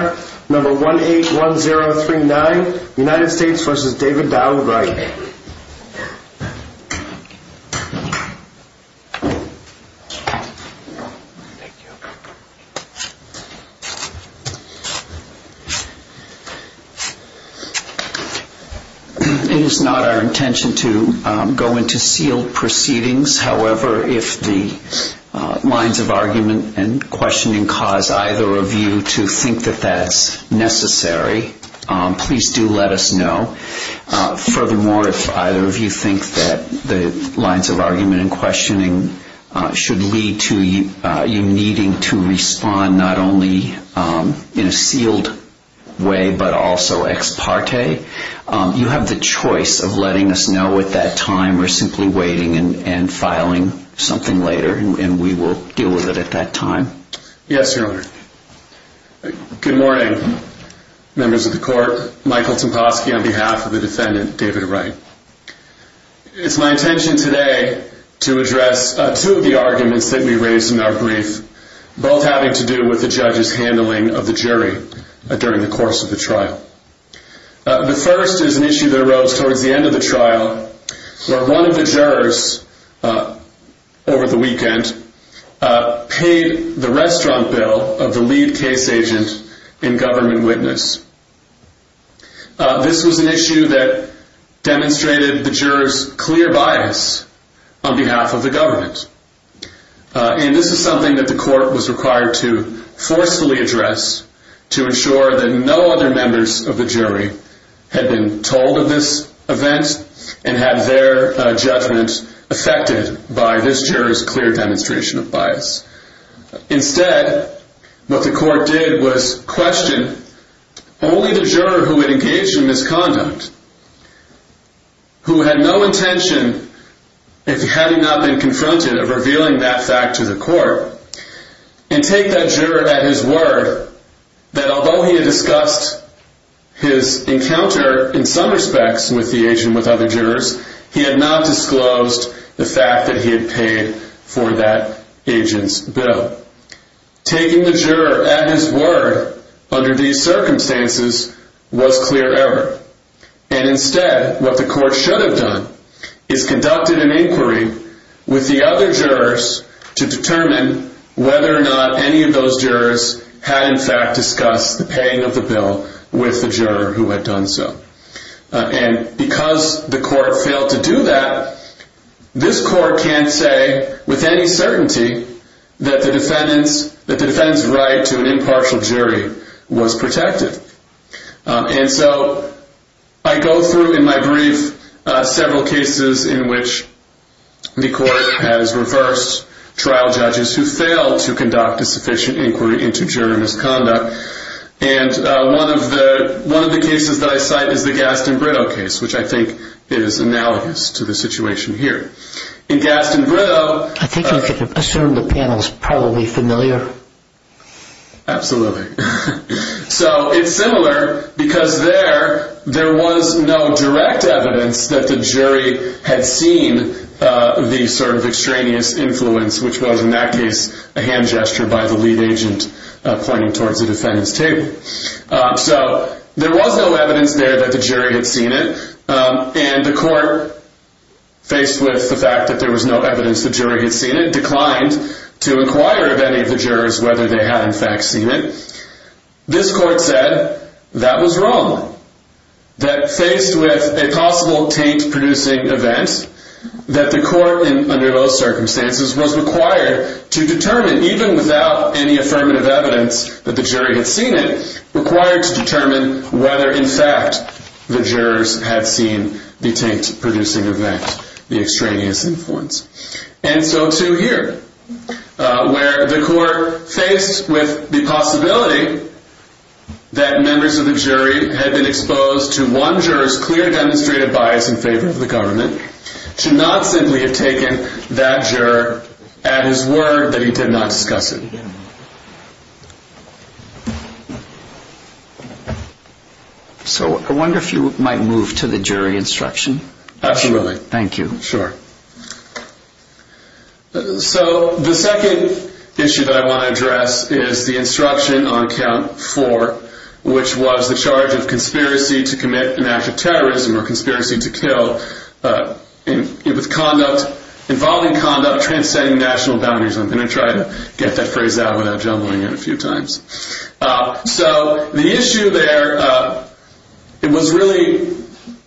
It is not our intention to go into sealed proceedings. However, if the lines of argument and questioning cause either of you to think that that's necessary, please do let us know. Furthermore, if either of you think that the lines of argument and questioning should lead to you needing to respond not only in a sealed way, but also ex parte, you have the choice of letting us know at that time or simply waiting and filing something later, and we will deal with it at that time. Yes, Your Honor. Good morning, members of the court. Michael Temposki on behalf of the defendant, David Wright. It's my intention today to address two of the arguments that we raised in our brief, both having to do with the judge's handling of the jury during the course of the trial. The first is an issue that arose towards the end of the trial where one of the jurors over the weekend paid the restaurant bill of the lead case agent and government witness. This was an issue that demonstrated the jurors clear bias on behalf of the government. And this is something that the court was required to forcefully address to ensure that no other members of the jury had been told of this event and had their judgment affected by this jurors clear demonstration of bias. Instead, what the court did was question only the juror who had engaged in misconduct, who had no intention, if he had not been confronted, of revealing that fact to the court, and take that juror at his word that although he had discussed his encounter in some respects with the agent with other jurors, he had not disclosed the fact that he had paid for that agent's bill. Taking the juror at his word under these circumstances was clear error. And instead, what the court should have done is conducted an inquiry with the other jurors to determine whether or not any of those jurors had in fact discussed the paying of the bill with the juror who had done so. And because the court failed to do that, this court can't say with any certainty that the defendant's right to an impartial jury was protected. And so I go through in my brief several cases in which the court has reversed trial judges who failed to conduct a sufficient inquiry into juror misconduct. And one of the cases that I cite is the Gaston Brito case, which I think is analogous to the situation here. In Gaston Brito... I think you can assume the panel is probably familiar. Absolutely. So it's similar because there was no direct evidence that the jury had seen the sort of extraneous influence, which was in that case a hand gesture by the lead agent pointing towards the defendant's table. So there was no evidence there that the jury had seen it. And the court, faced with the fact that there was no evidence the jury had seen it, declined to inquire of any of the jurors whether they had in fact seen it. This court said that was wrong, that faced with a possible taint-producing event, that the court under those circumstances was required to determine, even without any affirmative evidence that the jury had seen it, required to determine whether in fact the jurors had seen the taint-producing event, the extraneous influence. And so too here, where the court, faced with the possibility that members of the jury had been exposed to one juror's clear demonstrated bias in favor of the government, should not simply have taken that juror at his word that he did not discuss it. So I wonder if you might move to the jury instruction. Absolutely. Thank you. Sure. So the second issue that I want to address is the instruction on count four, which was the charge of conspiracy to commit an act of terrorism or conspiracy to kill, involving conduct transcending national boundaries. I'm going to try to get that phrase out without jumbling it a few times. So the issue there, it was really,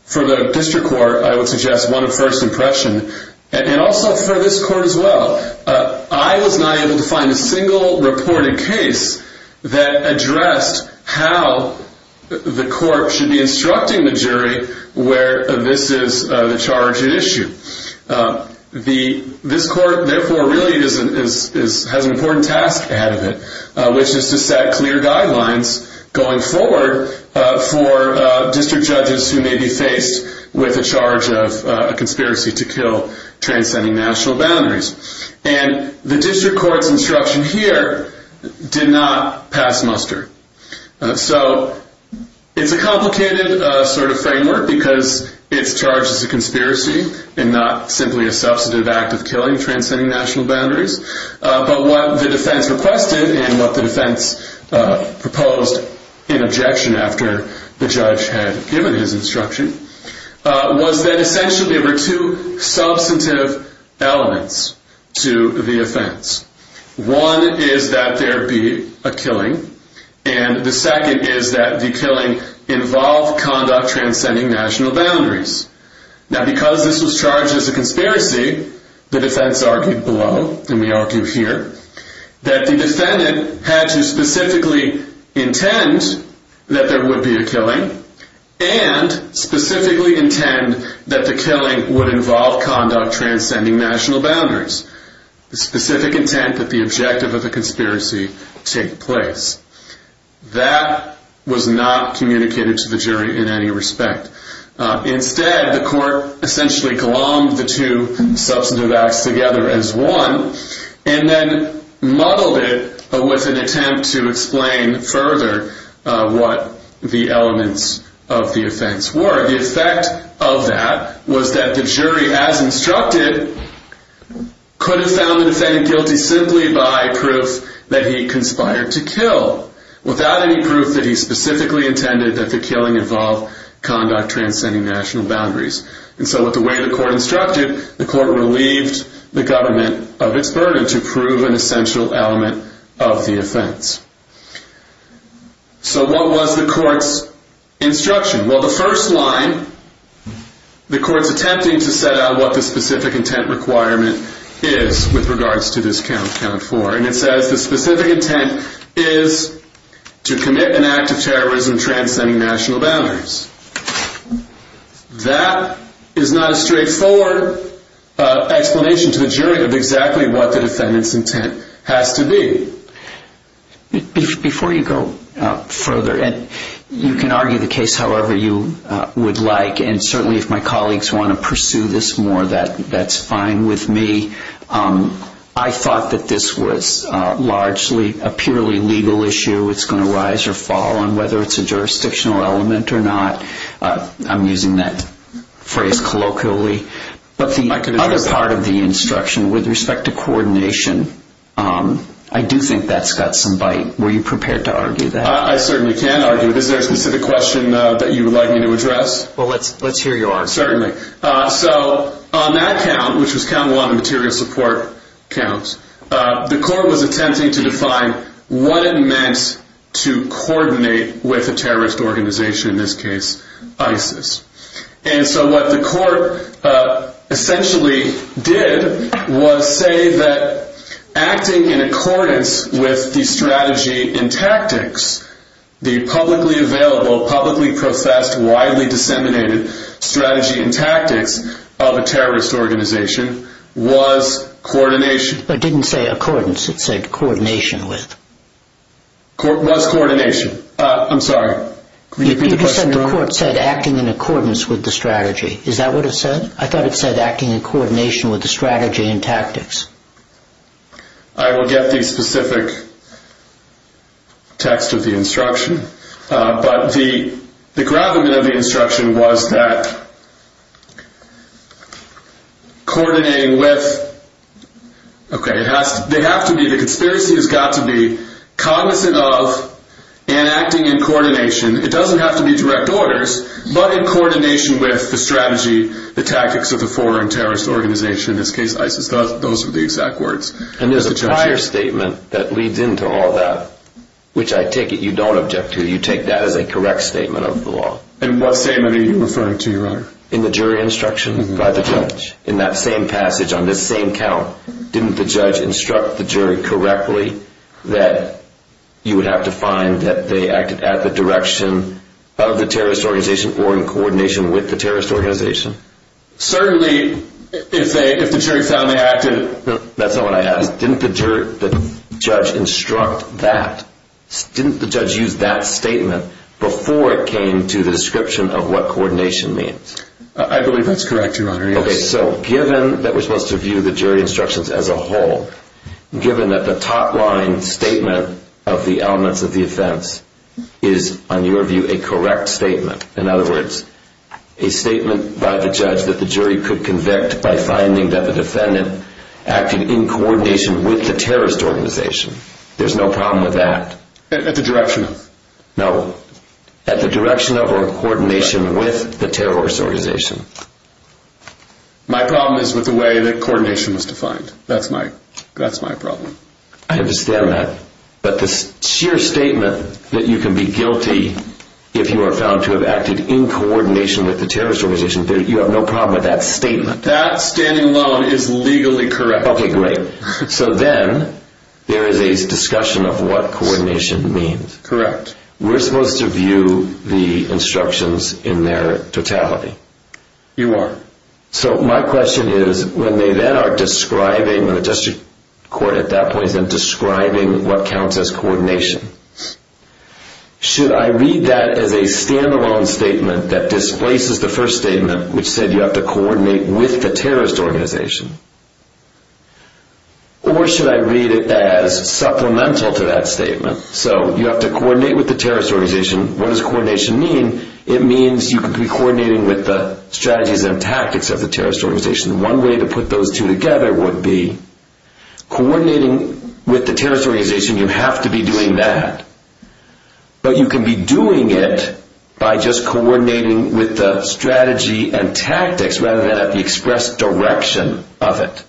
for the district court, I would suggest, one of first impression. And also for this court as well. I was not able to find a single reported case that addressed how the court should be instructing the jury where this is the charge at issue. This court, therefore, really has an important task ahead of it, which is to set clear guidelines going forward for district judges who may be faced with a charge of a conspiracy to kill transcending national boundaries. And the district court's instruction here did not pass muster. So it's a complicated sort of framework because it's charged as a conspiracy and not simply a substantive act of killing transcending national boundaries. But what the defense requested and what the defense proposed in objection after the judge had given his instruction was that essentially there were two substantive elements to the offense. One is that there be a killing. And the second is that the killing involve conduct transcending national boundaries. Now because this was charged as a conspiracy, the defense argued below, and we argue here, that the defendant had to specifically intend that there would be a killing. And specifically intend that the killing would involve conduct transcending national boundaries. The specific intent that the objective of the conspiracy take place. That was not communicated to the jury in any respect. Instead, the court essentially glommed the two substantive acts together as one and then muddled it with an attempt to explain further what the elements of the offense were. The effect of that was that the jury, as instructed, could have found the defendant guilty simply by proof that he conspired to kill. Without any proof that he specifically intended that the killing involve conduct transcending national boundaries. And so with the way the court instructed, the court relieved the government of its burden to prove an essential element of the offense. So what was the court's instruction? Well the first line, the court's attempting to set out what the specific intent requirement is with regards to this count, count four. And it says the specific intent is to commit an act of terrorism transcending national boundaries. That is not a straightforward explanation to the jury of exactly what the defendant's intent has to be. Before you go further, you can argue the case however you would like. And certainly if my colleagues want to pursue this more, that's fine with me. I thought that this was largely a purely legal issue. It's going to rise or fall on whether it's a jurisdictional element or not. I'm using that phrase colloquially. But the other part of the instruction with respect to coordination, I do think that's got some bite. Were you prepared to argue that? I certainly can argue it. Is there a specific question that you would like me to address? Well let's hear yours. Certainly. So on that count, which was count one, the material support counts, the court was attempting to define what it meant to coordinate with a terrorist organization, in this case ISIS. And so what the court essentially did was say that acting in accordance with the strategy and tactics, the publicly available, publicly processed, widely disseminated strategy and tactics of a terrorist organization was coordination. It didn't say accordance. It said coordination with. It was coordination. I'm sorry. You said the court said acting in accordance with the strategy. Is that what it said? I thought it said acting in coordination with the strategy and tactics. I will get the specific text of the instruction. But the gravamen of the instruction was that coordinating with, okay, they have to be, the conspiracy has got to be cognizant of and acting in coordination. It doesn't have to be direct orders, but in coordination with the strategy, the tactics of the foreign terrorist organization, in this case ISIS. Those are the exact words. And there's a prior statement that leads into all that, which I take it you don't object to. You take that as a correct statement of the law. And what statement are you referring to, Your Honor? In the jury instruction by the judge. In that same passage on this same count, didn't the judge instruct the jury correctly that you would have to find that they acted at the direction of the terrorist organization or in coordination with the terrorist organization? Certainly, if the jury found they acted, that's not what I asked. Didn't the judge instruct that? Didn't the judge use that statement before it came to the description of what coordination means? I believe that's correct, Your Honor, yes. Okay, so given that we're supposed to view the jury instructions as a whole, given that the top line statement of the elements of the offense is, on your view, a correct statement. In other words, a statement by the judge that the jury could convict by finding that the defendant acted in coordination with the terrorist organization. There's no problem with that. At the direction of? No, at the direction of or coordination with the terrorist organization. My problem is with the way that coordination was defined. That's my problem. I understand that, but the sheer statement that you can be guilty if you are found to have acted in coordination with the terrorist organization, you have no problem with that statement. That standing alone is legally correct. Okay, great. So then there is a discussion of what coordination means. Correct. We're supposed to view the instructions in their totality. You are. So my question is, when they then are describing what counts as coordination, should I read that as a stand-alone statement that displaces the first statement, which said you have to coordinate with the terrorist organization? Or should I read it as supplemental to that statement? So you have to coordinate with the terrorist organization. What does coordination mean? It means you could be coordinating with the strategies and tactics of the terrorist organization. One way to put those two together would be coordinating with the terrorist organization. You have to be doing that. But you can be doing it by just coordinating with the strategy and tactics rather than at the expressed direction of it.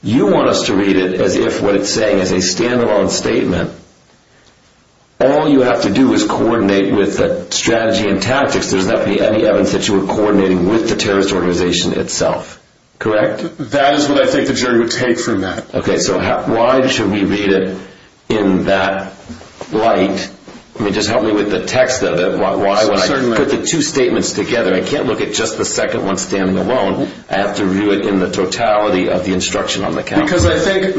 You want us to read it as if what it's saying is a stand-alone statement. All you have to do is coordinate with the strategy and tactics. There's not going to be any evidence that you were coordinating with the terrorist organization itself. Correct? That is what I think the jury would take from that. Okay, so why should we read it in that light? I mean, just help me with the text of it. Why would I put the two statements together? I can't look at just the second one standing alone. I have to view it in the totality of the instruction on the counter. Because I think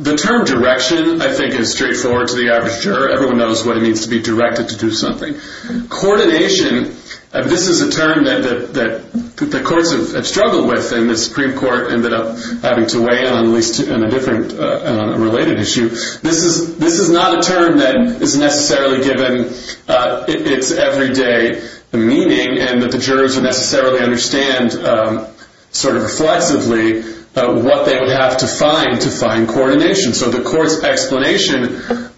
the term direction, I think, is straightforward to the average juror. Everyone knows what it means to be directed to do something. Coordination, this is a term that the courts have struggled with and the Supreme Court ended up having to weigh in on a related issue. This is not a term that is necessarily given its everyday meaning and that the jurors would necessarily understand sort of reflexively what they would have to find to find coordination. So the court's explanation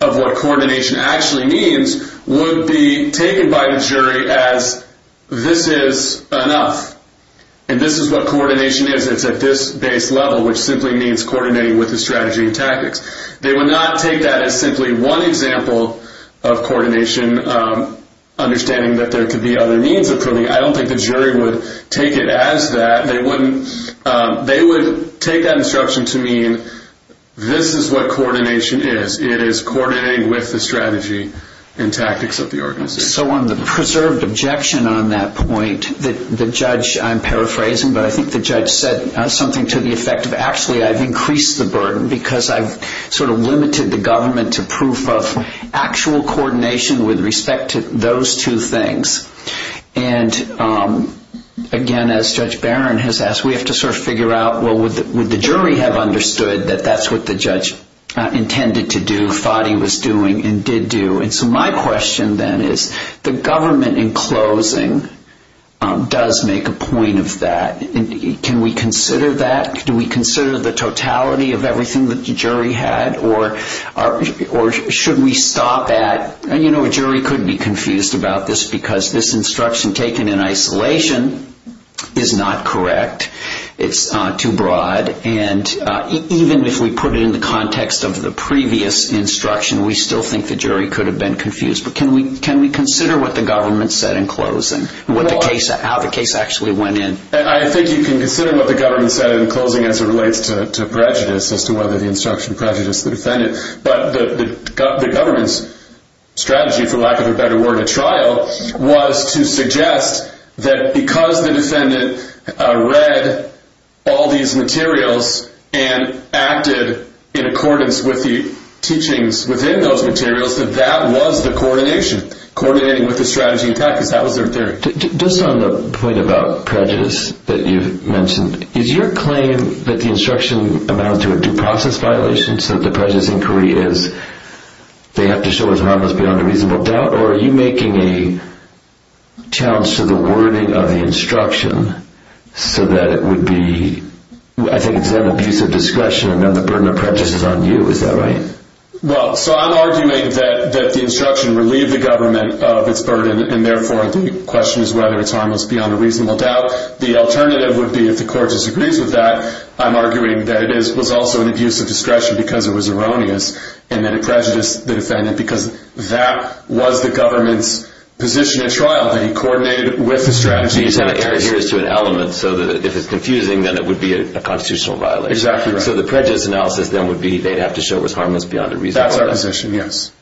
of what coordination actually means would be taken by the jury as this is enough and this is what coordination is. It's at this base level, which simply means coordinating with the strategy and tactics. Understanding that there could be other means of coordinating, I don't think the jury would take it as that. They would take that instruction to mean this is what coordination is. It is coordinating with the strategy and tactics of the organization. So on the preserved objection on that point, the judge, I'm paraphrasing, but I think the judge said something to the effect of actually I've increased the burden because I've sort of limited the government to proof of actual coordination with respect to those two things. And again, as Judge Barron has asked, we have to sort of figure out, well, would the jury have understood that that's what the judge intended to do, thought he was doing, and did do? And so my question then is the government in closing does make a point of that. Can we consider that? Do we consider the totality of everything that the jury had, or should we stop at, you know, a jury could be confused about this because this instruction taken in isolation is not correct. It's too broad. And even if we put it in the context of the previous instruction, we still think the jury could have been confused. But can we consider what the government said in closing, how the case actually went in? I think you can consider what the government said in closing as it relates to prejudice, as to whether the instruction prejudiced the defendant. But the government's strategy, for lack of a better word, at trial, was to suggest that because the defendant read all these materials and acted in accordance with the teachings within those materials, that that was the coordination, coordinating with the strategy in practice. Just on the point about prejudice that you mentioned, is your claim that the instruction amounts to a due process violation, so that the prejudice inquiry is, they have to show as harmless beyond a reasonable doubt, or are you making a challenge to the wording of the instruction so that it would be, I think it's an abuse of discretion and then the burden of prejudice is on you. Is that right? Well, so I'm arguing that the instruction relieved the government of its burden and therefore the question is whether it's harmless beyond a reasonable doubt. The alternative would be if the court disagrees with that, I'm arguing that it was also an abuse of discretion because it was erroneous and then it prejudiced the defendant because that was the government's position at trial, that he coordinated with the strategy in practice. He kind of adheres to an element so that if it's confusing then it would be a constitutional violation. Exactly right. So the prejudice analysis then would be they'd have to show it was harmless beyond a reasonable doubt. That's our position, yes.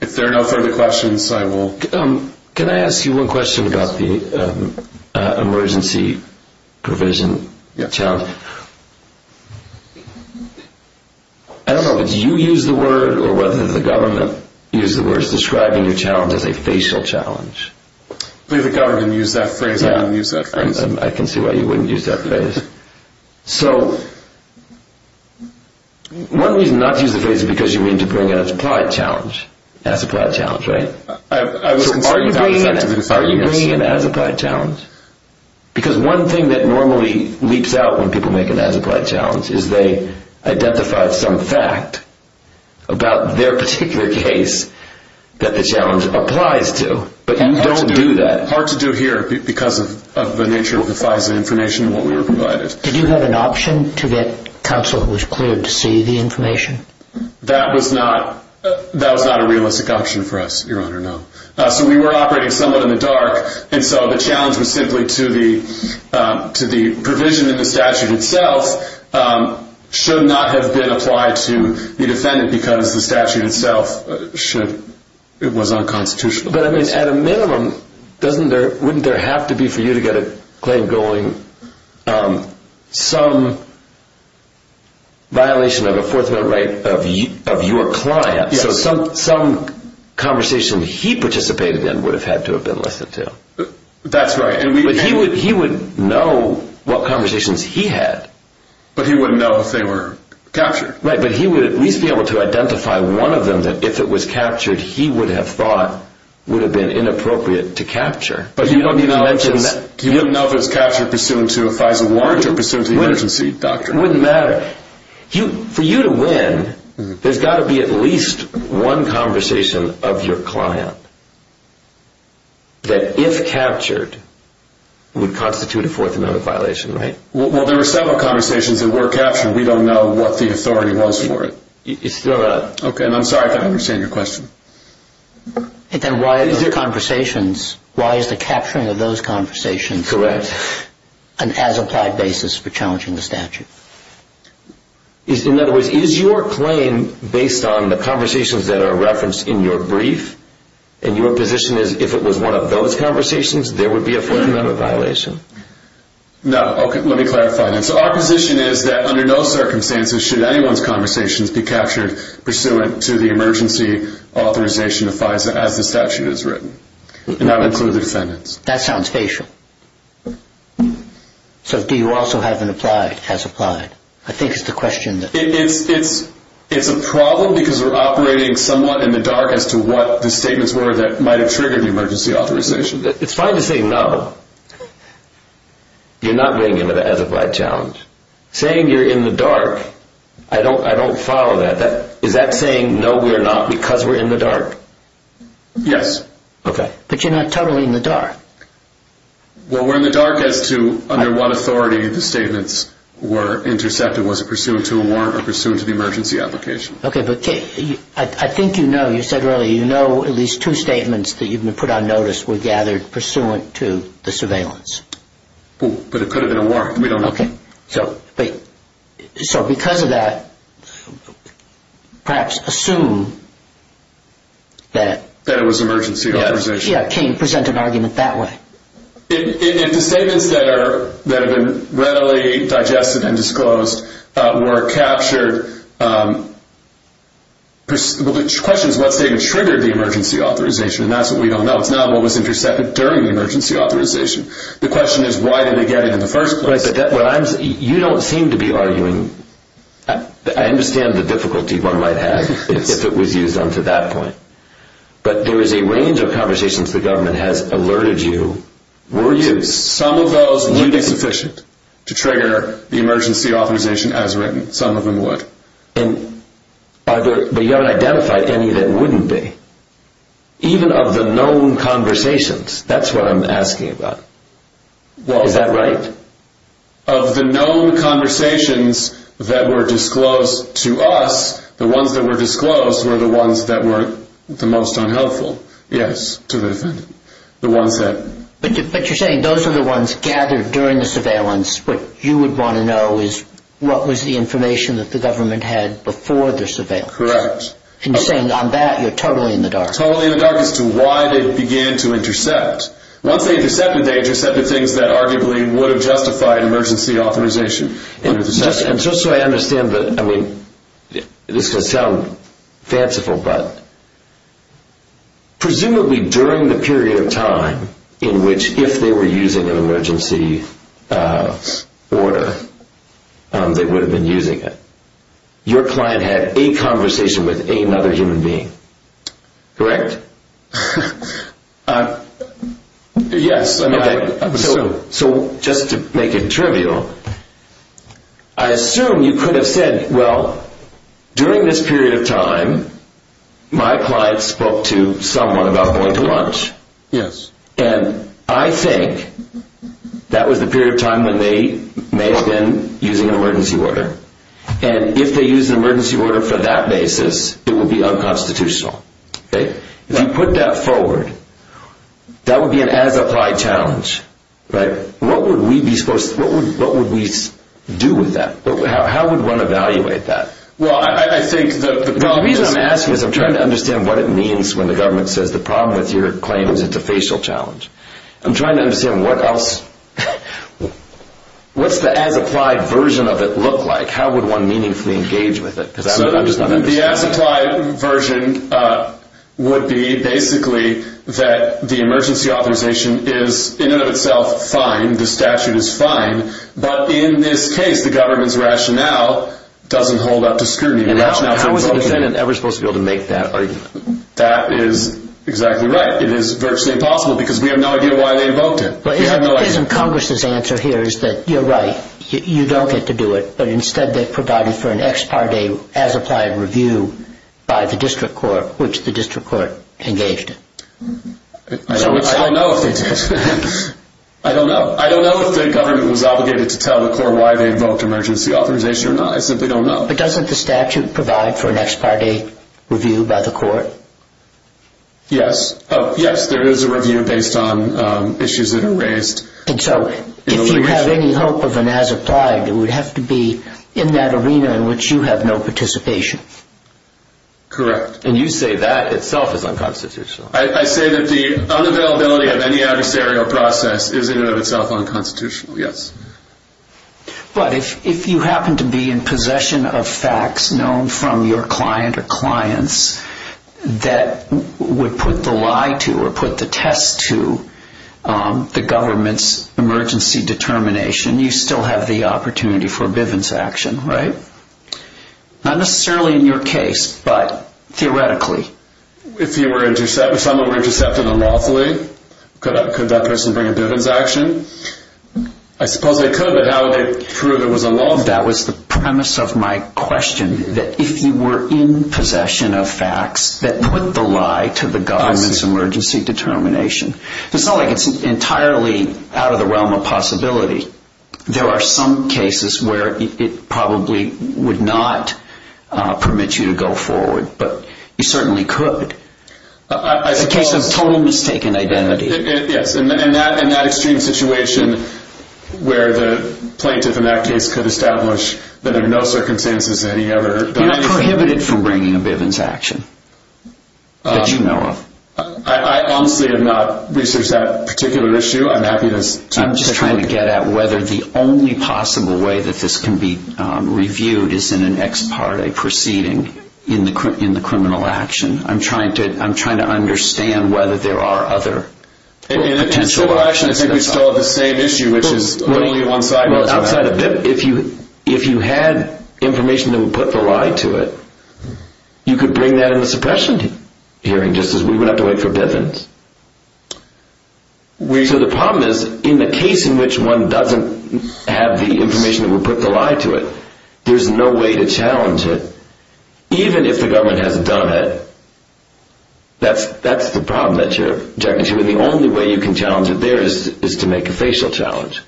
If there are no further questions, I will... Can I ask you one question about the emergency provision challenge? Yeah. I don't know whether you used the word or whether the government used the word describing your challenge as a facial challenge. I believe the government used that phrase. I didn't use that phrase. I can see why you wouldn't use that phrase. So one reason not to use the phrase is because you mean to bring it as applied challenge, as applied challenge, right? So are you bringing it as applied challenge? Because one thing that normally leaps out when people make an as applied challenge is they identify some fact about their particular case that the challenge applies to. But you don't do that. Hard to do here because of the nature of the FISA information and what we were provided. Did you have an option to get counsel who was cleared to see the information? That was not a realistic option for us, Your Honor, no. So we were operating somewhat in the dark, and so the challenge was simply to the provision in the statute itself should not have been applied to the defendant because the statute itself was unconstitutional. But at a minimum, wouldn't there have to be for you to get a claim going some violation of a Fourth Amendment right of your client? So some conversation he participated in would have had to have been listened to. That's right. But he would know what conversations he had. But he wouldn't know if they were captured. Right, but he would at least be able to identify one of them that if it was captured he would have thought would have been inappropriate to capture. But you don't even know if it was captured pursuant to a FISA warrant or pursuant to the emergency, doctor. It wouldn't matter. For you to win, there's got to be at least one conversation of your client that if captured would constitute a Fourth Amendment violation, right? Well, there were several conversations that were captured. We don't know what the authority was for it. Okay, and I'm sorry if I don't understand your question. Then why is the capturing of those conversations an as-applied basis for challenging the statute? In other words, is your claim based on the conversations that are referenced in your brief? And your position is if it was one of those conversations, there would be a Fourth Amendment violation? No. Okay, let me clarify. So our position is that under no circumstances should anyone's conversations be captured pursuant to the emergency authorization of FISA as the statute has written. And that would include the defendants. That sounds facial. So do you also have an applied, as-applied? I think it's the question that… It's a problem because we're operating somewhat in the dark as to what the statements were that might have triggered the emergency authorization. It's fine to say no. You're not going into the as-applied challenge. Saying you're in the dark, I don't follow that. Is that saying no, we're not, because we're in the dark? Yes. Okay. But you're not totally in the dark. Well, we're in the dark as to under what authority the statements were intercepted, was it pursuant to a warrant or pursuant to the emergency application. Okay, but I think you know, you said earlier, you know at least two statements that you've been put on notice were gathered pursuant to the surveillance. But it could have been a warrant. We don't know. Okay. So because of that, perhaps assume that… That it was emergency authorization. Yeah, can you present an argument that way? If the statements that have been readily digested and disclosed were captured, the question is what statement triggered the emergency authorization, and that's what we don't know. It's not what was intercepted during the emergency authorization. The question is why did they get it in the first place. You don't seem to be arguing. I understand the difficulty one might have if it was used on to that point. But there is a range of conversations the government has alerted you were used. Some of those would be sufficient to trigger the emergency authorization as written. Some of them would. But you haven't identified any that wouldn't be. Even of the known conversations, that's what I'm asking about. Is that right? Of the known conversations that were disclosed to us, the ones that were disclosed were the ones that were the most unhelpful, yes, to the defendant. But you're saying those are the ones gathered during the surveillance. What you would want to know is what was the information that the government had before the surveillance. Correct. And you're saying on that you're totally in the dark. Totally in the dark as to why they began to intercept. Once they intercepted, they intercepted things that arguably would have justified emergency authorization. And just so I understand, this is going to sound fanciful, but presumably during the period of time in which if they were using an emergency order, they would have been using it, your client had a conversation with another human being. Correct? Yes. So just to make it trivial, I assume you could have said, well, during this period of time, my client spoke to someone about going to lunch. Yes. And I think that was the period of time when they may have been using an emergency order. And if they used an emergency order for that basis, it would be unconstitutional. If you put that forward, that would be an as-applied challenge. What would we do with that? How would one evaluate that? The reason I'm asking is I'm trying to understand what it means when the government says, the problem with your claim is it's a facial challenge. I'm trying to understand what else, what's the as-applied version of it look like? How would one meaningfully engage with it? The as-applied version would be basically that the emergency authorization is in and of itself fine, and the statute is fine, but in this case, the government's rationale doesn't hold up to scrutiny. How is a defendant ever supposed to be able to make that argument? That is exactly right. It is virtually impossible because we have no idea why they invoked it. Isn't Congress's answer here is that you're right, you don't get to do it, but instead they provided for an ex parte as-applied review by the district court, which the district court engaged in? I don't know if they did. I don't know. I don't know if the government was obligated to tell the court why they invoked emergency authorization or not. I simply don't know. But doesn't the statute provide for an ex parte review by the court? Yes. Yes, there is a review based on issues that are raised. And so if you have any hope of an as-applied, it would have to be in that arena in which you have no participation. Correct. And you say that itself is unconstitutional. I say that the unavailability of any adversarial process is in and of itself unconstitutional, yes. But if you happen to be in possession of facts known from your client or clients that would put the lie to or put the test to the government's emergency determination, you still have the opportunity for a bivens action, right? Not necessarily in your case, but theoretically. If someone were intercepted unlawfully, could that person bring a bivens action? I suppose they could, but how would they prove it was unlawful? That was the premise of my question, that if you were in possession of facts that put the lie to the government's emergency determination. It's not like it's entirely out of the realm of possibility. There are some cases where it probably would not permit you to go forward. But you certainly could. It's a case of total mistaken identity. Yes, and that extreme situation where the plaintiff in that case could establish that under no circumstances had he ever done anything. You're prohibited from bringing a bivens action that you know of. I honestly have not researched that particular issue. I'm just trying to get at whether the only possible way that this can be reviewed is in an ex parte proceeding in the criminal action. I'm trying to understand whether there are other potential options. I think we still have the same issue, which is only one-sided. If you had information that would put the lie to it, you could bring that in the suppression hearing, just as we would have to wait for bivens. The problem is, in the case in which one doesn't have the information that would put the lie to it, there's no way to challenge it. Even if the government has done it, that's the problem that you're objecting to. The only way you can challenge it there is to make a facial challenge.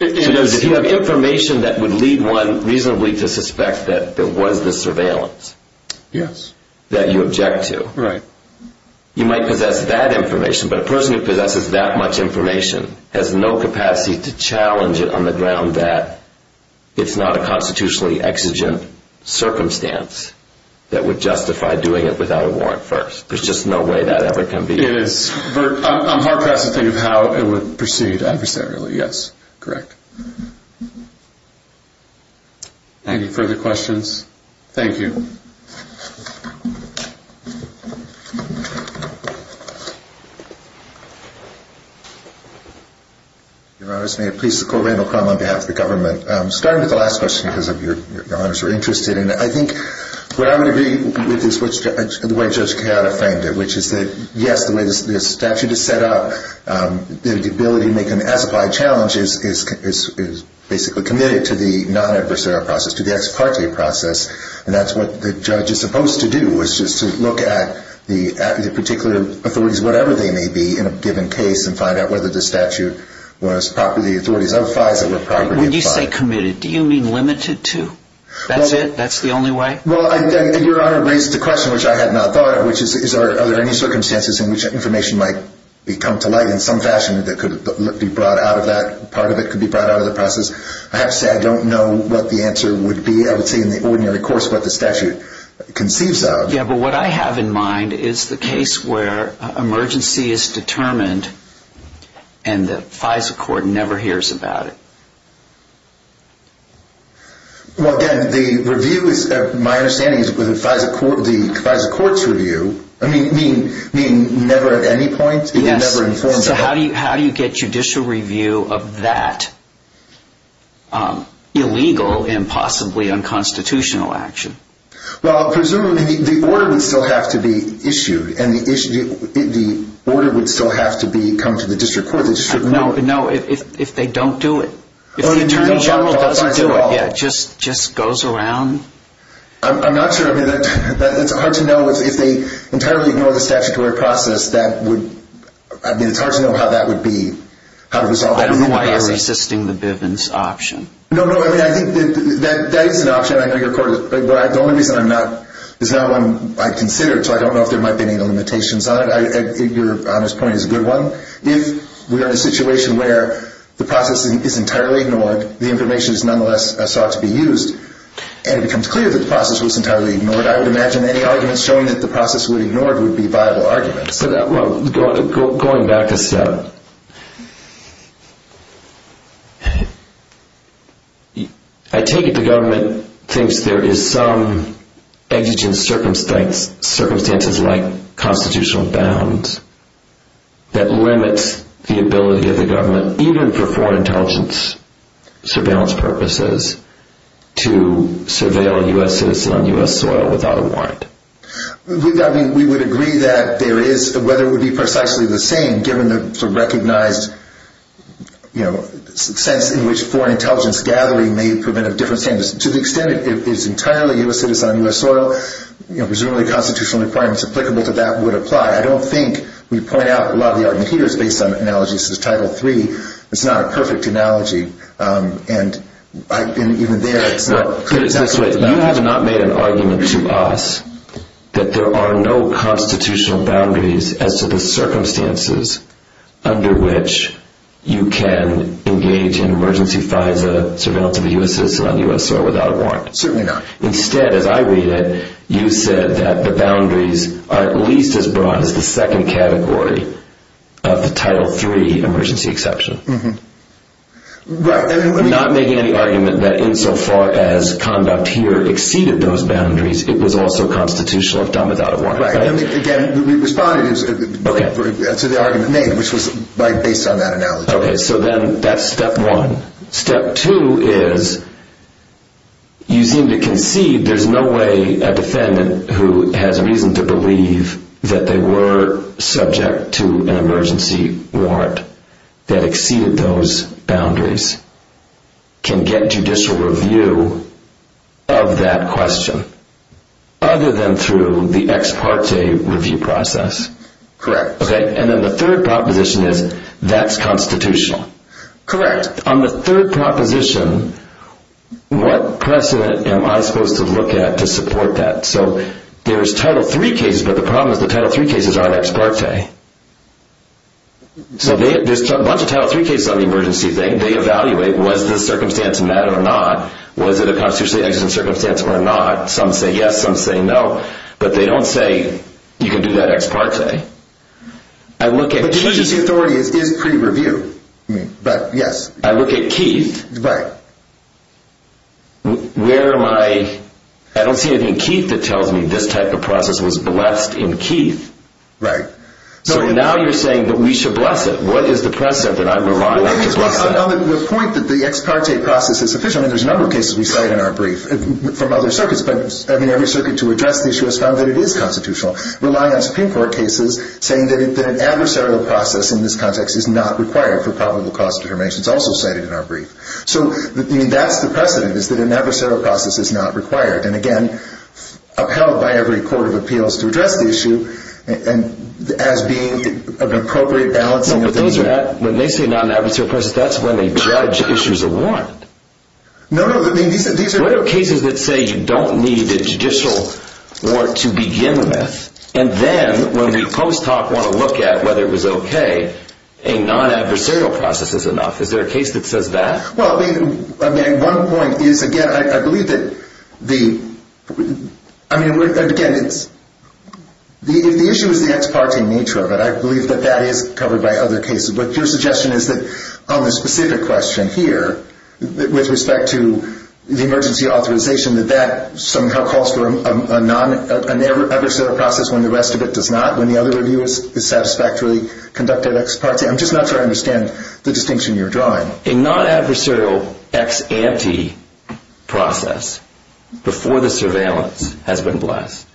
If you have information that would lead one reasonably to suspect that there was this surveillance that you object to. You might possess that information, but a person who possesses that much information has no capacity to challenge it on the ground that it's not a constitutionally exigent circumstance that would justify doing it without a warrant first. There's just no way that ever can be done. It is. I'm hard-pressed to think of how it would proceed adversarially. Yes, correct. Any further questions? Thank you. Your Honors, may it please the Court, Randall Crum on behalf of the government. Starting with the last question, because Your Honors are interested in it. I think what I would agree with is the way Judge Kayada framed it, which is that, yes, the way the statute is set up, the ability to make an as-applied challenge is basically committed to the non-adversarial process, to the ex parte process. And that's what the judge is supposed to do, is just to look at the particular authorities, whatever they may be, in a given case and find out whether the statute was properly – the authorities of FISA were properly applied. When you say committed, do you mean limited to? That's it? That's the only way? Well, Your Honor raised a question which I had not thought of, which is, are there any circumstances in which information might come to light in some fashion that could be brought out of that? Part of it could be brought out of the process. I have to say, I don't know what the answer would be. I would say, in the ordinary course, what the statute conceives of. Yeah, but what I have in mind is the case where emergency is determined and the FISA Court never hears about it. Well, again, the review is – my understanding is the FISA Court's review – I mean, never at any point? Yes. So how do you get judicial review of that illegal and possibly unconstitutional action? Well, presumably, the order would still have to be issued, and the order would still have to come to the district court. No, if they don't do it. If the Attorney General doesn't do it, it just goes around. I'm not sure. I mean, it's hard to know. If they entirely ignore the statutory process, that would – I mean, it's hard to know how that would be – how to resolve that. I don't know why you're resisting the Bivens option. No, no, I mean, I think that is an option. I think the Court – the only reason I'm not – there's not one I'd consider, so I don't know if there might be any limitations on it. Your honest point is a good one. If we are in a situation where the process is entirely ignored, the information is nonetheless sought to be used, and it becomes clear that the process was entirely ignored, I would imagine any arguments showing that the process was ignored would be viable arguments. Going back a step, I take it the government thinks there is some exigent circumstance, circumstances like constitutional bounds, that limits the ability of the government, even for foreign intelligence surveillance purposes, to surveil U.S. citizens on U.S. soil without a warrant. We would agree that there is – whether it would be precisely the same, given the recognized sense in which foreign intelligence gathering may prevent a different sentence. To the extent it is entirely U.S. citizen on U.S. soil, presumably constitutional requirements applicable to that would apply. I don't think we point out a lot of the argument here is based on analogies to Title III. It's not a perfect analogy. And even there, it's not – You have not made an argument to us that there are no constitutional boundaries as to the circumstances under which you can engage in emergency FISA surveillance of a U.S. citizen on U.S. soil without a warrant. Certainly not. Instead, as I read it, you said that the boundaries are at least as broad as the second category of the Title III emergency exception. Right. Not making any argument that insofar as conduct here exceeded those boundaries, it was also constitutional if done without a warrant. Right. And again, we responded to the argument made, which was based on that analogy. Okay, so then that's step one. Step two is, you seem to concede there's no way a defendant who has reason to believe that they were subject to an emergency warrant that exceeded those boundaries can get judicial review of that question, other than through the ex parte review process. Correct. Okay, and then the third proposition is, that's constitutional. Correct. On the third proposition, what precedent am I supposed to look at to support that? So, there's Title III cases, but the problem is the Title III cases aren't ex parte. So, there's a bunch of Title III cases on the emergency thing. They evaluate, was this circumstance met or not? Was it a constitutionally exigent circumstance or not? Some say yes, some say no. But they don't say, you can do that ex parte. But judicial authority is pre-review. I look at Keith. Right. Where am I? I don't see anything in Keith that tells me this type of process was blessed in Keith. Right. So, now you're saying that we should bless it. What is the precedent that I rely on to bless it? Well, on the point that the ex parte process is sufficient, I mean, there's a number of cases we cite in our brief from other circuits. But, I mean, every circuit to address the issue has found that it is constitutional. Rely on Supreme Court cases saying that an adversarial process in this context is not required for probable cause determinations, also cited in our brief. So, I mean, that's the precedent, is that an adversarial process is not required. And, again, upheld by every court of appeals to address the issue, and as being an appropriate balance. No, but those are not, when they say non-adversarial process, that's when a judge issues a warrant. No, no, I mean, these are. What are cases that say you don't need a judicial warrant to begin with, and then when we post-talk want to look at whether it was okay, a non-adversarial process is enough. Is there a case that says that? Well, I mean, one point is, again, I believe that the, I mean, again, if the issue is the ex parte nature of it, I believe that that is covered by other cases. But your suggestion is that on the specific question here, with respect to the emergency authorization, that that somehow calls for a non-adversarial process when the rest of it does not, when the other review is satisfactorily conducted ex parte. I'm just not sure I understand the distinction you're drawing. A non-adversarial ex ante process, before the surveillance, has been blessed.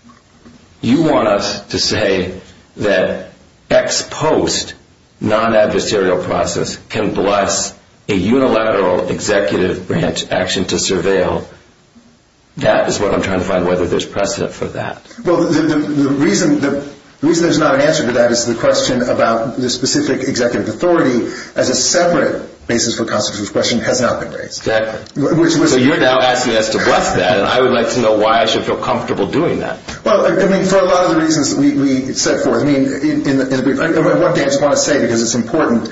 You want us to say that ex post non-adversarial process can bless a unilateral executive branch action to surveil. That is what I'm trying to find, whether there's precedent for that. Well, the reason there's not an answer to that is the question about the specific executive authority as a separate basis for constitutional discretion has not been raised. So you're now asking us to bless that, and I would like to know why I should feel comfortable doing that. Well, I mean, for a lot of the reasons we set forth, I mean, one thing I just want to say, because it's important,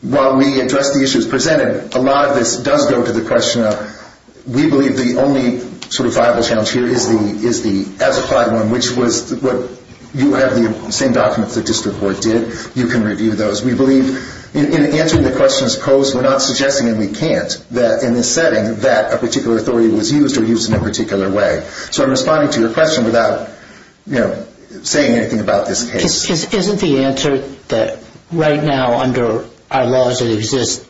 while we address the issues presented, a lot of this does go to the question of we believe the only sort of viable challenge here is the as applied one, which was what you have the same documents the district court did. You can review those. We believe in answering the questions posed, we're not suggesting, and we can't, that in this setting that a particular authority was used or used in a particular way. So I'm responding to your question without saying anything about this case. Isn't the answer that right now under our laws that exist,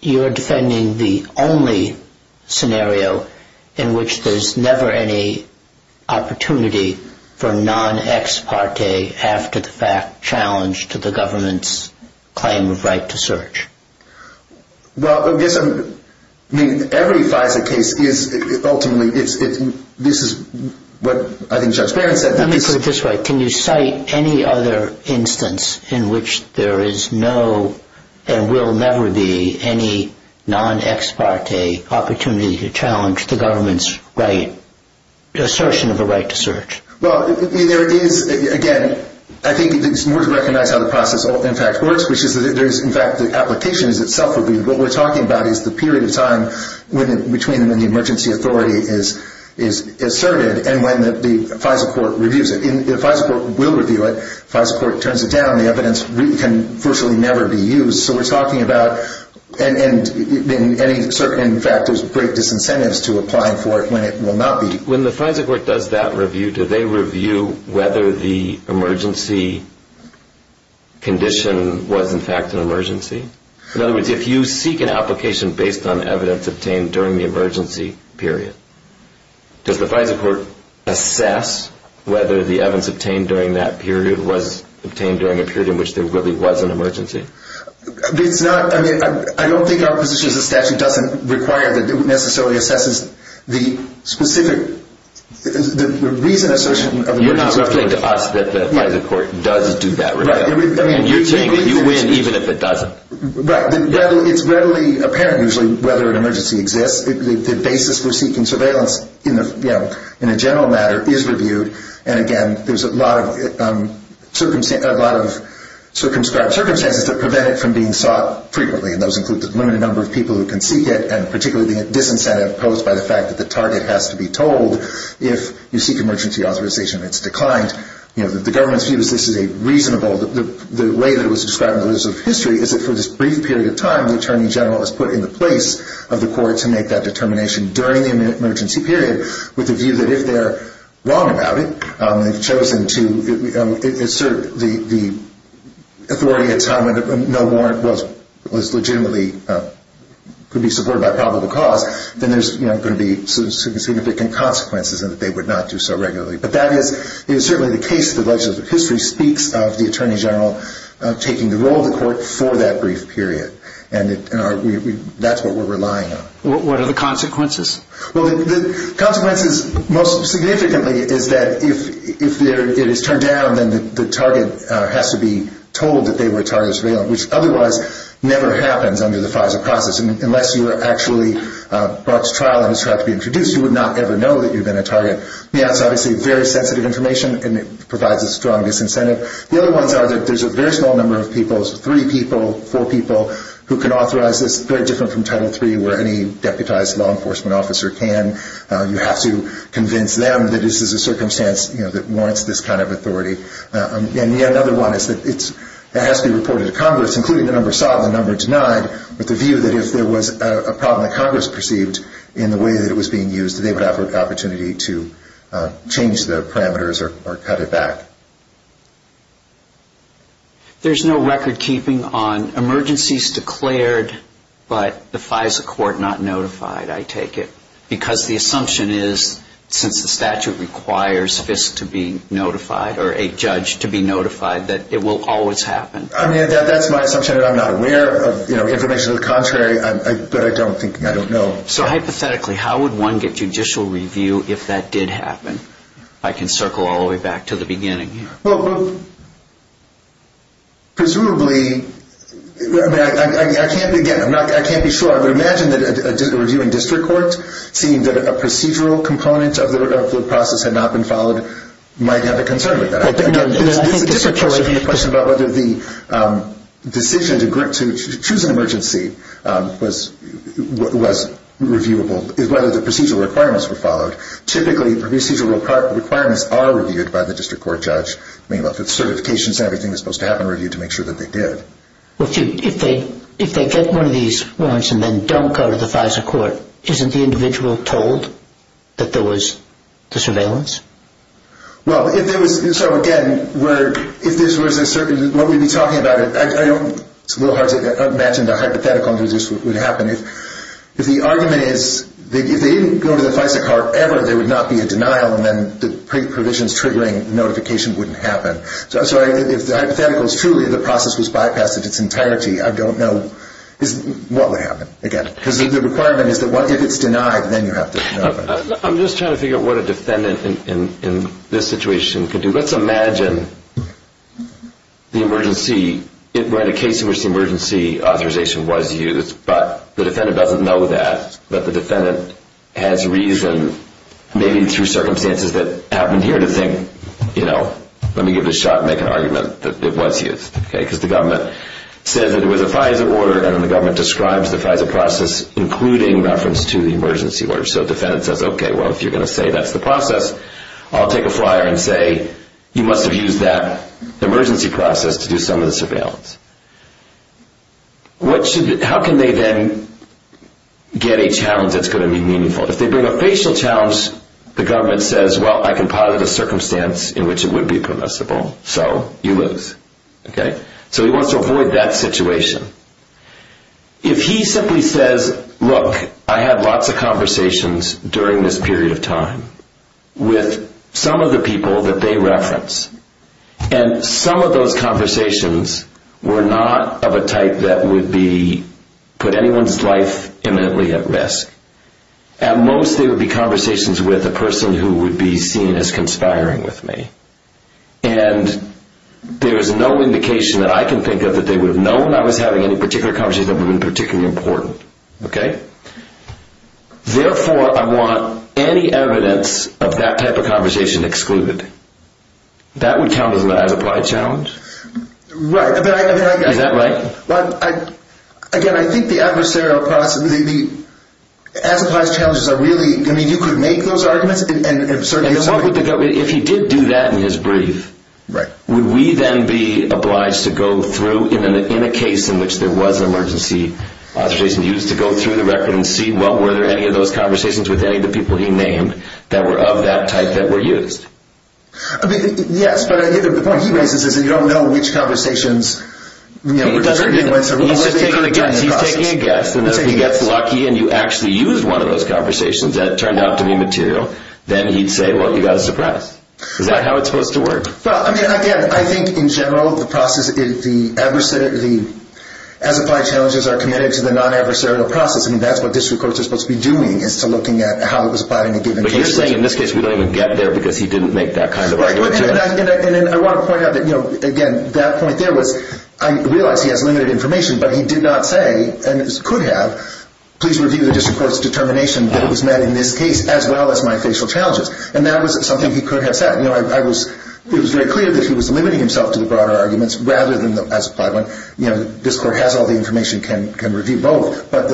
you're defending the only scenario in which there's never any opportunity for non-ex parte after the fact challenge to the government's claim of right to search? Well, I guess, I mean, every FISA case is ultimately, this is what I think Judge Barron said. Let me put it this way. Can you cite any other instance in which there is no and will never be any non-ex parte opportunity to challenge the government's assertion of a right to search? Well, there is, again, I think it's more to recognize how the process, in fact, works, which is that there is, in fact, the application is itself reviewed. What we're talking about is the period of time between when the emergency authority is asserted and when the FISA court reviews it. If FISA court will review it, FISA court turns it down, the evidence can virtually never be used. So we're talking about, and in fact, there's great disincentives to applying for it when it will not be. When the FISA court does that review, do they review whether the emergency condition was, in fact, an emergency? In other words, if you seek an application based on evidence obtained during the emergency period, does the FISA court assess whether the evidence obtained during that period was obtained during a period in which there really was an emergency? It's not, I mean, I don't think our position as a statute doesn't require that it necessarily assesses the specific, the reason assertion of an emergency. You're not saying to us that the FISA court does do that review. Right. You're saying that you win even if it doesn't. Right. It's readily apparent, usually, whether an emergency exists. The basis for seeking surveillance in a general matter is reviewed. And again, there's a lot of circumstances that prevent it from being sought frequently, and those include the limited number of people who can seek it, and particularly the disincentive posed by the fact that the target has to be told if you seek emergency authorization and it's declined. The government's view is this is a reasonable, the way that it was described in the list of history, is that for this brief period of time, the attorney general is put in the place of the court to make that determination during the emergency period, with the view that if they're wrong about it, they've chosen to assert the authority at a time when no warrant was legitimately, could be supported by probable cause, then there's going to be significant consequences in that they would not do so regularly. But that is certainly the case, the legislative history speaks of the attorney general taking the role of the court for that brief period. And that's what we're relying on. What are the consequences? Well, the consequences, most significantly, is that if it is turned down, then the target has to be told that they were a target of surveillance, which otherwise never happens under the FISA process. Unless you are actually brought to trial and it's tried to be introduced, you would not ever know that you've been a target. That's obviously very sensitive information, and it provides the strongest incentive. The other ones are that there's a very small number of people, three people, four people, who can authorize this, very different from Title III where any deputized law enforcement officer can. You have to convince them that this is a circumstance that warrants this kind of authority. And yet another one is that it has to be reported to Congress, including the number sought and the number denied, with the view that if there was a problem that Congress perceived in the way that it was being used, they would have an opportunity to change the parameters or cut it back. There's no record keeping on emergencies declared but the FISA court not notified, I take it, because the assumption is, since the statute requires FISC to be notified or a judge to be notified, that it will always happen. I mean, that's my assumption. I'm not aware of information to the contrary, but I don't think, I don't know. So hypothetically, how would one get judicial review if that did happen? I can circle all the way back to the beginning here. Well, presumably, I can't begin, I can't be sure. I would imagine that a review in district court, seeing that a procedural component of the process had not been followed, might have a concern with that. There's a different question about whether the decision to choose an emergency was reviewable, is whether the procedural requirements were followed. Typically, procedural requirements are reviewed by the district court judge. I mean, the certifications and everything that's supposed to happen are reviewed to make sure that they did. Well, if they get one of these warrants and then don't go to the FISA court, isn't the individual told that there was the surveillance? Well, if there was, so again, if this was a certain, what we'd be talking about, I don't, it's a little hard to imagine the hypothetical that this would happen. If the argument is, if they didn't go to the FISA court ever, there would not be a denial, and then the provisions triggering notification wouldn't happen. So if the hypothetical is truly the process was bypassed in its entirety, I don't know what would happen. Again, because the requirement is that if it's denied, then you have to know about it. I'm just trying to figure out what a defendant in this situation could do. Let's imagine the emergency, right, a case in which the emergency authorization was used, but the defendant doesn't know that, but the defendant has reason, maybe through circumstances that happened here, to think, you know, let me give it a shot and make an argument that it was used, okay, because the government says that it was a FISA order, and then the government describes the FISA process including reference to the emergency order. So the defendant says, okay, well, if you're going to say that's the process, I'll take a flyer and say you must have used that emergency process to do some of the surveillance. How can they then get a challenge that's going to be meaningful? If they bring a facial challenge, the government says, well, I can pilot a circumstance in which it would be permissible, so you lose, okay. So he wants to avoid that situation. If he simply says, look, I had lots of conversations during this period of time with some of the people that they reference, and some of those conversations were not of a type that would put anyone's life imminently at risk. At most they would be conversations with a person who would be seen as conspiring with me, and there is no indication that I can think of that they would have known I was having any particular conversations that would have been particularly important, okay. Therefore, I want any evidence of that type of conversation excluded. That would count as an as-applied challenge? Right. Is that right? Again, I think the adversarial process, the as-applied challenges are really, I mean, you could make those arguments, and certainly... If he did do that in his brief, would we then be obliged to go through, in a case in which there was an emergency authorization used, to go through the record and see, well, were there any of those conversations with any of the people he named that were of that type that were used? I mean, yes, but the point he raises is that you don't know which conversations... He's just taking a guess. He's taking a guess, and if he gets lucky and you actually used one of those conversations that turned out to be material, then he'd say, well, you got a surprise. Is that how it's supposed to work? Well, I mean, again, I think in general the process is the as-applied challenges are committed to the non-adversarial process. I mean, that's what district courts are supposed to be doing, is to looking at how it was applied in a given case. But you're saying in this case we don't even get there because he didn't make that kind of argument. And I want to point out that, again, that point there was I realize he has limited information, but he did not say, and could have, please review the district court's determination that it was met in this case as well as my facial challenges. And that was something he could have said. You know, it was very clear that he was limiting himself to the broader arguments rather than the as-applied one. You know, the district court has all the information, can review both. But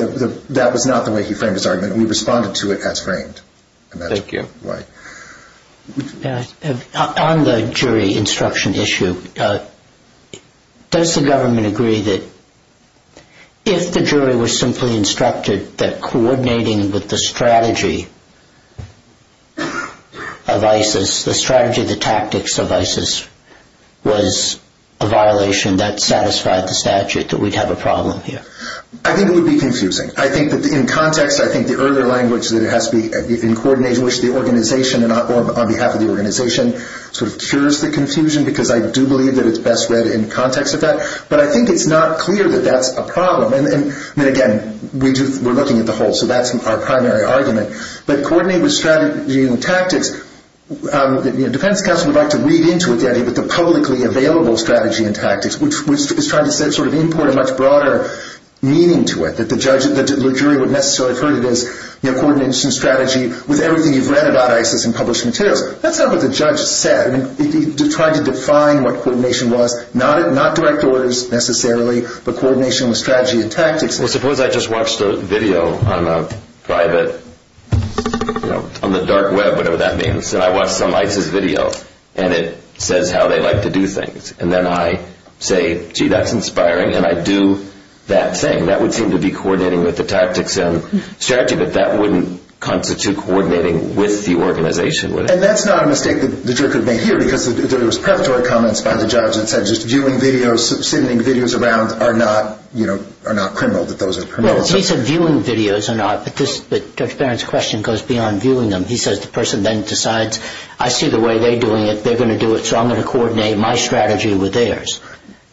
that was not the way he framed his argument, and we responded to it as framed. Thank you. On the jury instruction issue, does the government agree that if the jury was simply instructed that coordinating with the strategy of ISIS, the strategy of the tactics of ISIS was a violation, that satisfied the statute, that we'd have a problem here? I think it would be confusing. I think that in context, I think the earlier language that it has to be in coordination with the organization or on behalf of the organization sort of cures the confusion because I do believe that it's best read in context of that. But I think it's not clear that that's a problem. And, again, we're looking at the whole, so that's our primary argument. But coordinating with strategy and tactics, the defense counsel would like to read into it the idea that the publicly available strategy and tactics, which is trying to sort of import a much broader meaning to it, that the jury would necessarily have heard it as coordination strategy with everything you've read about ISIS in published materials. That's not what the judge said. He tried to define what coordination was, not direct orders necessarily, but coordination with strategy and tactics. Well, suppose I just watched a video on the dark web, whatever that means, and I watched some ISIS video and it says how they like to do things. And then I say, gee, that's inspiring, and I do that thing. That would seem to be coordinating with the tactics and strategy, but that wouldn't constitute coordinating with the organization, would it? And that's not a mistake that the jury could make here, because there was preparatory comments by the judge that said just viewing videos, sending videos around are not criminal, that those are criminal. Well, he said viewing videos are not, but Dr. Barron's question goes beyond viewing them. He says the person then decides, I see the way they're doing it, they're going to do it, so I'm going to coordinate my strategy with theirs.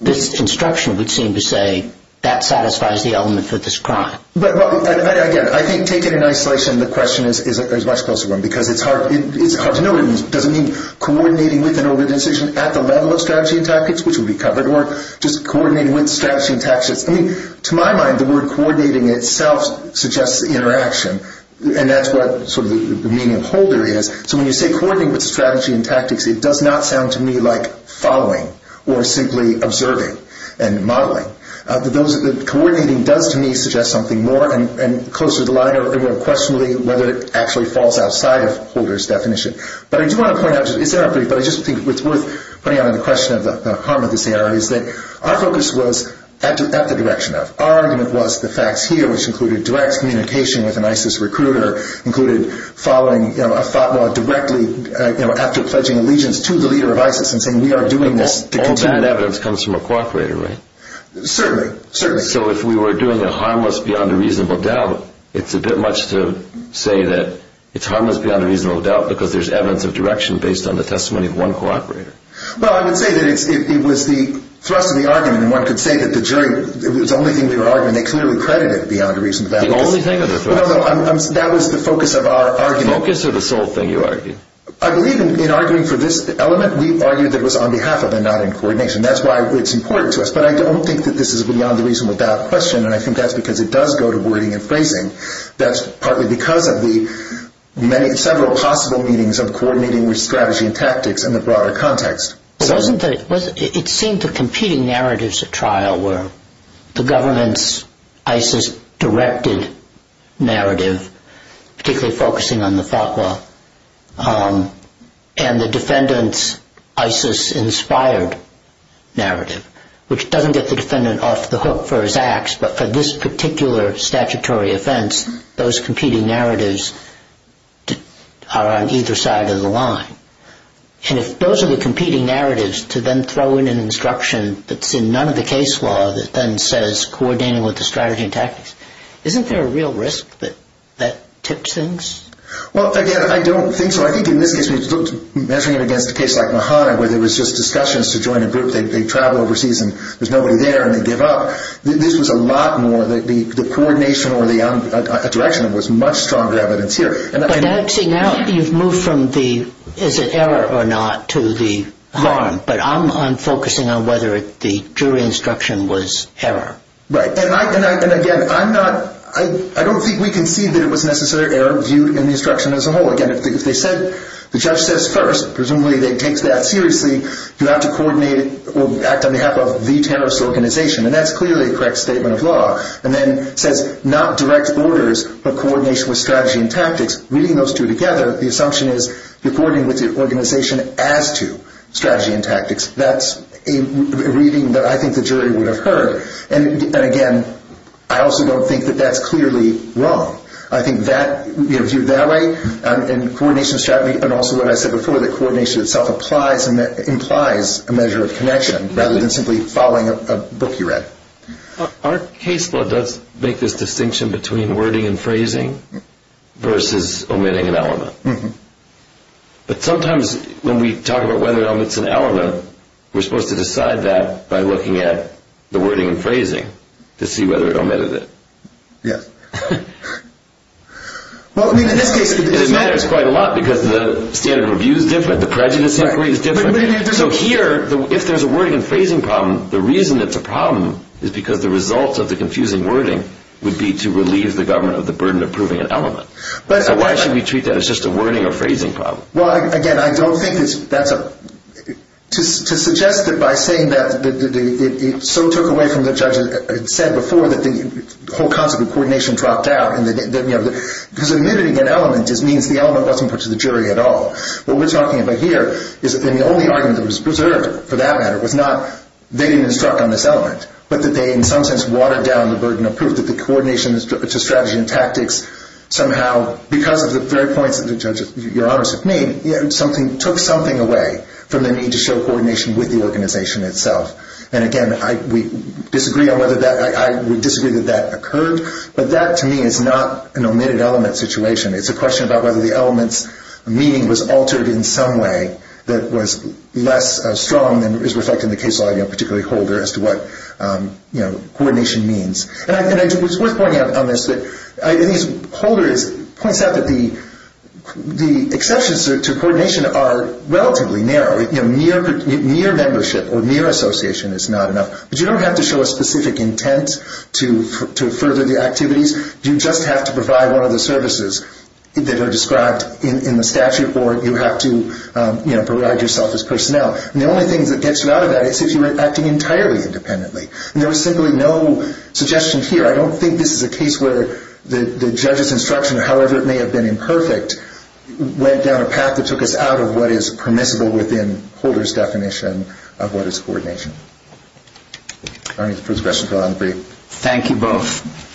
This instruction would seem to say that satisfies the element for this crime. But, again, I think taken in isolation, the question is a much closer one, because it's hard to know. It doesn't mean coordinating with an organization at the level of strategy and tactics, which would be covered, or just coordinating with strategy and tactics. I mean, to my mind, the word coordinating itself suggests interaction, and that's what sort of the meaning of holder is. So when you say coordinating with strategy and tactics, it does not sound to me like following or simply observing and modeling. The coordinating does to me suggest something more and closer to the line and more questionably whether it actually falls outside of holder's definition. But I do want to point out, it's an update, but I just think it's worth putting out in the question of the harm of this error, is that our focus was at the direction of. Our argument was the facts here, which included direct communication with an ISIS recruiter, included following a fatwa directly after pledging allegiance to the leader of ISIS and saying we are doing this to continue. Certainly, certainly. So if we were doing a harmless beyond a reasonable doubt, it's a bit much to say that it's harmless beyond a reasonable doubt because there's evidence of direction based on the testimony of one cooperator. Well, I would say that it was the thrust of the argument, and one could say that the jury, it was the only thing they were arguing, they clearly credited beyond a reasonable doubt. The only thing of the thrust. No, no, that was the focus of our argument. Focus or the sole thing you argued? I believe in arguing for this element, we argued that it was on behalf of and not in coordination. That's why it's important to us. But I don't think that this is beyond the reasonable doubt question, and I think that's because it does go to wording and phrasing. That's partly because of the several possible meanings of coordinating with strategy and tactics in the broader context. It seemed the competing narratives at trial were the government's ISIS directed narrative, particularly focusing on the fatwa, and the defendant's ISIS inspired narrative, which doesn't get the defendant off the hook for his acts, but for this particular statutory offense, those competing narratives are on either side of the line. And if those are the competing narratives, to then throw in an instruction that's in none of the case law that then says coordinating with the strategy and tactics, isn't there a real risk that that tips things? Well, again, I don't think so. I think in this case, measuring it against a case like Mahana, where there was just discussions to join a group, they travel overseas and there's nobody there, and they give up. This was a lot more, the coordination or the direction was much stronger evidence here. But actually now you've moved from the, is it error or not, to the harm. But I'm focusing on whether the jury instruction was error. Right. And again, I'm not, I don't think we can see that it was necessarily error viewed in the instruction as a whole. Again, if they said, the judge says first, presumably they take that seriously, you have to coordinate or act on behalf of the terrorist organization. And that's clearly a correct statement of law. And then it says not direct orders, but coordination with strategy and tactics. Reading those two together, the assumption is you're coordinating with the organization as to strategy and tactics. That's a reading that I think the jury would have heard. And again, I also don't think that that's clearly wrong. I think that, viewed that way, and coordination strategy, and also what I said before, that coordination itself implies a measure of connection, rather than simply following a book you read. Our case law does make this distinction between wording and phrasing versus omitting an element. But sometimes when we talk about whether or not it's an element, we're supposed to decide that by looking at the wording and phrasing to see whether it omitted it. Yes. Well, I mean, in this case, it matters quite a lot because the standard of view is different, the prejudice inquiry is different. So here, if there's a wording and phrasing problem, the reason it's a problem is because the results of the confusing wording would be to relieve the government of the burden of proving an element. So why should we treat that as just a wording or phrasing problem? Well, again, I don't think that's a— to suggest that by saying that it so took away from what the judge had said before, that the whole concept of coordination dropped out, because omitting an element just means the element wasn't put to the jury at all. What we're talking about here is that the only argument that was preserved, for that matter, was not they didn't instruct on this element, but that they, in some sense, watered down the burden of proof that the coordination strategy and tactics somehow, because of the very points that the judge, Your Honors, made, took something away from the need to show coordination with the organization itself. And again, we disagree on whether that—I would disagree that that occurred, but that, to me, is not an omitted element situation. It's a question about whether the element's meaning was altered in some way that was less strong than is reflected in the case law, particularly Holder, as to what coordination means. And it's worth pointing out on this that Holder points out that the exceptions to coordination are relatively narrow. Near membership or near association is not enough. But you don't have to show a specific intent to further the activities. You just have to provide one of the services that are described in the statute, or you have to provide yourself as personnel. And the only thing that gets you out of that is if you were acting entirely independently. And there was simply no suggestion here. I don't think this is a case where the judge's instruction, or however it may have been imperfect, went down a path that took us out of what is permissible within Holder's definition of what is coordination. All right. The first question fell out in the brief. Thank you both.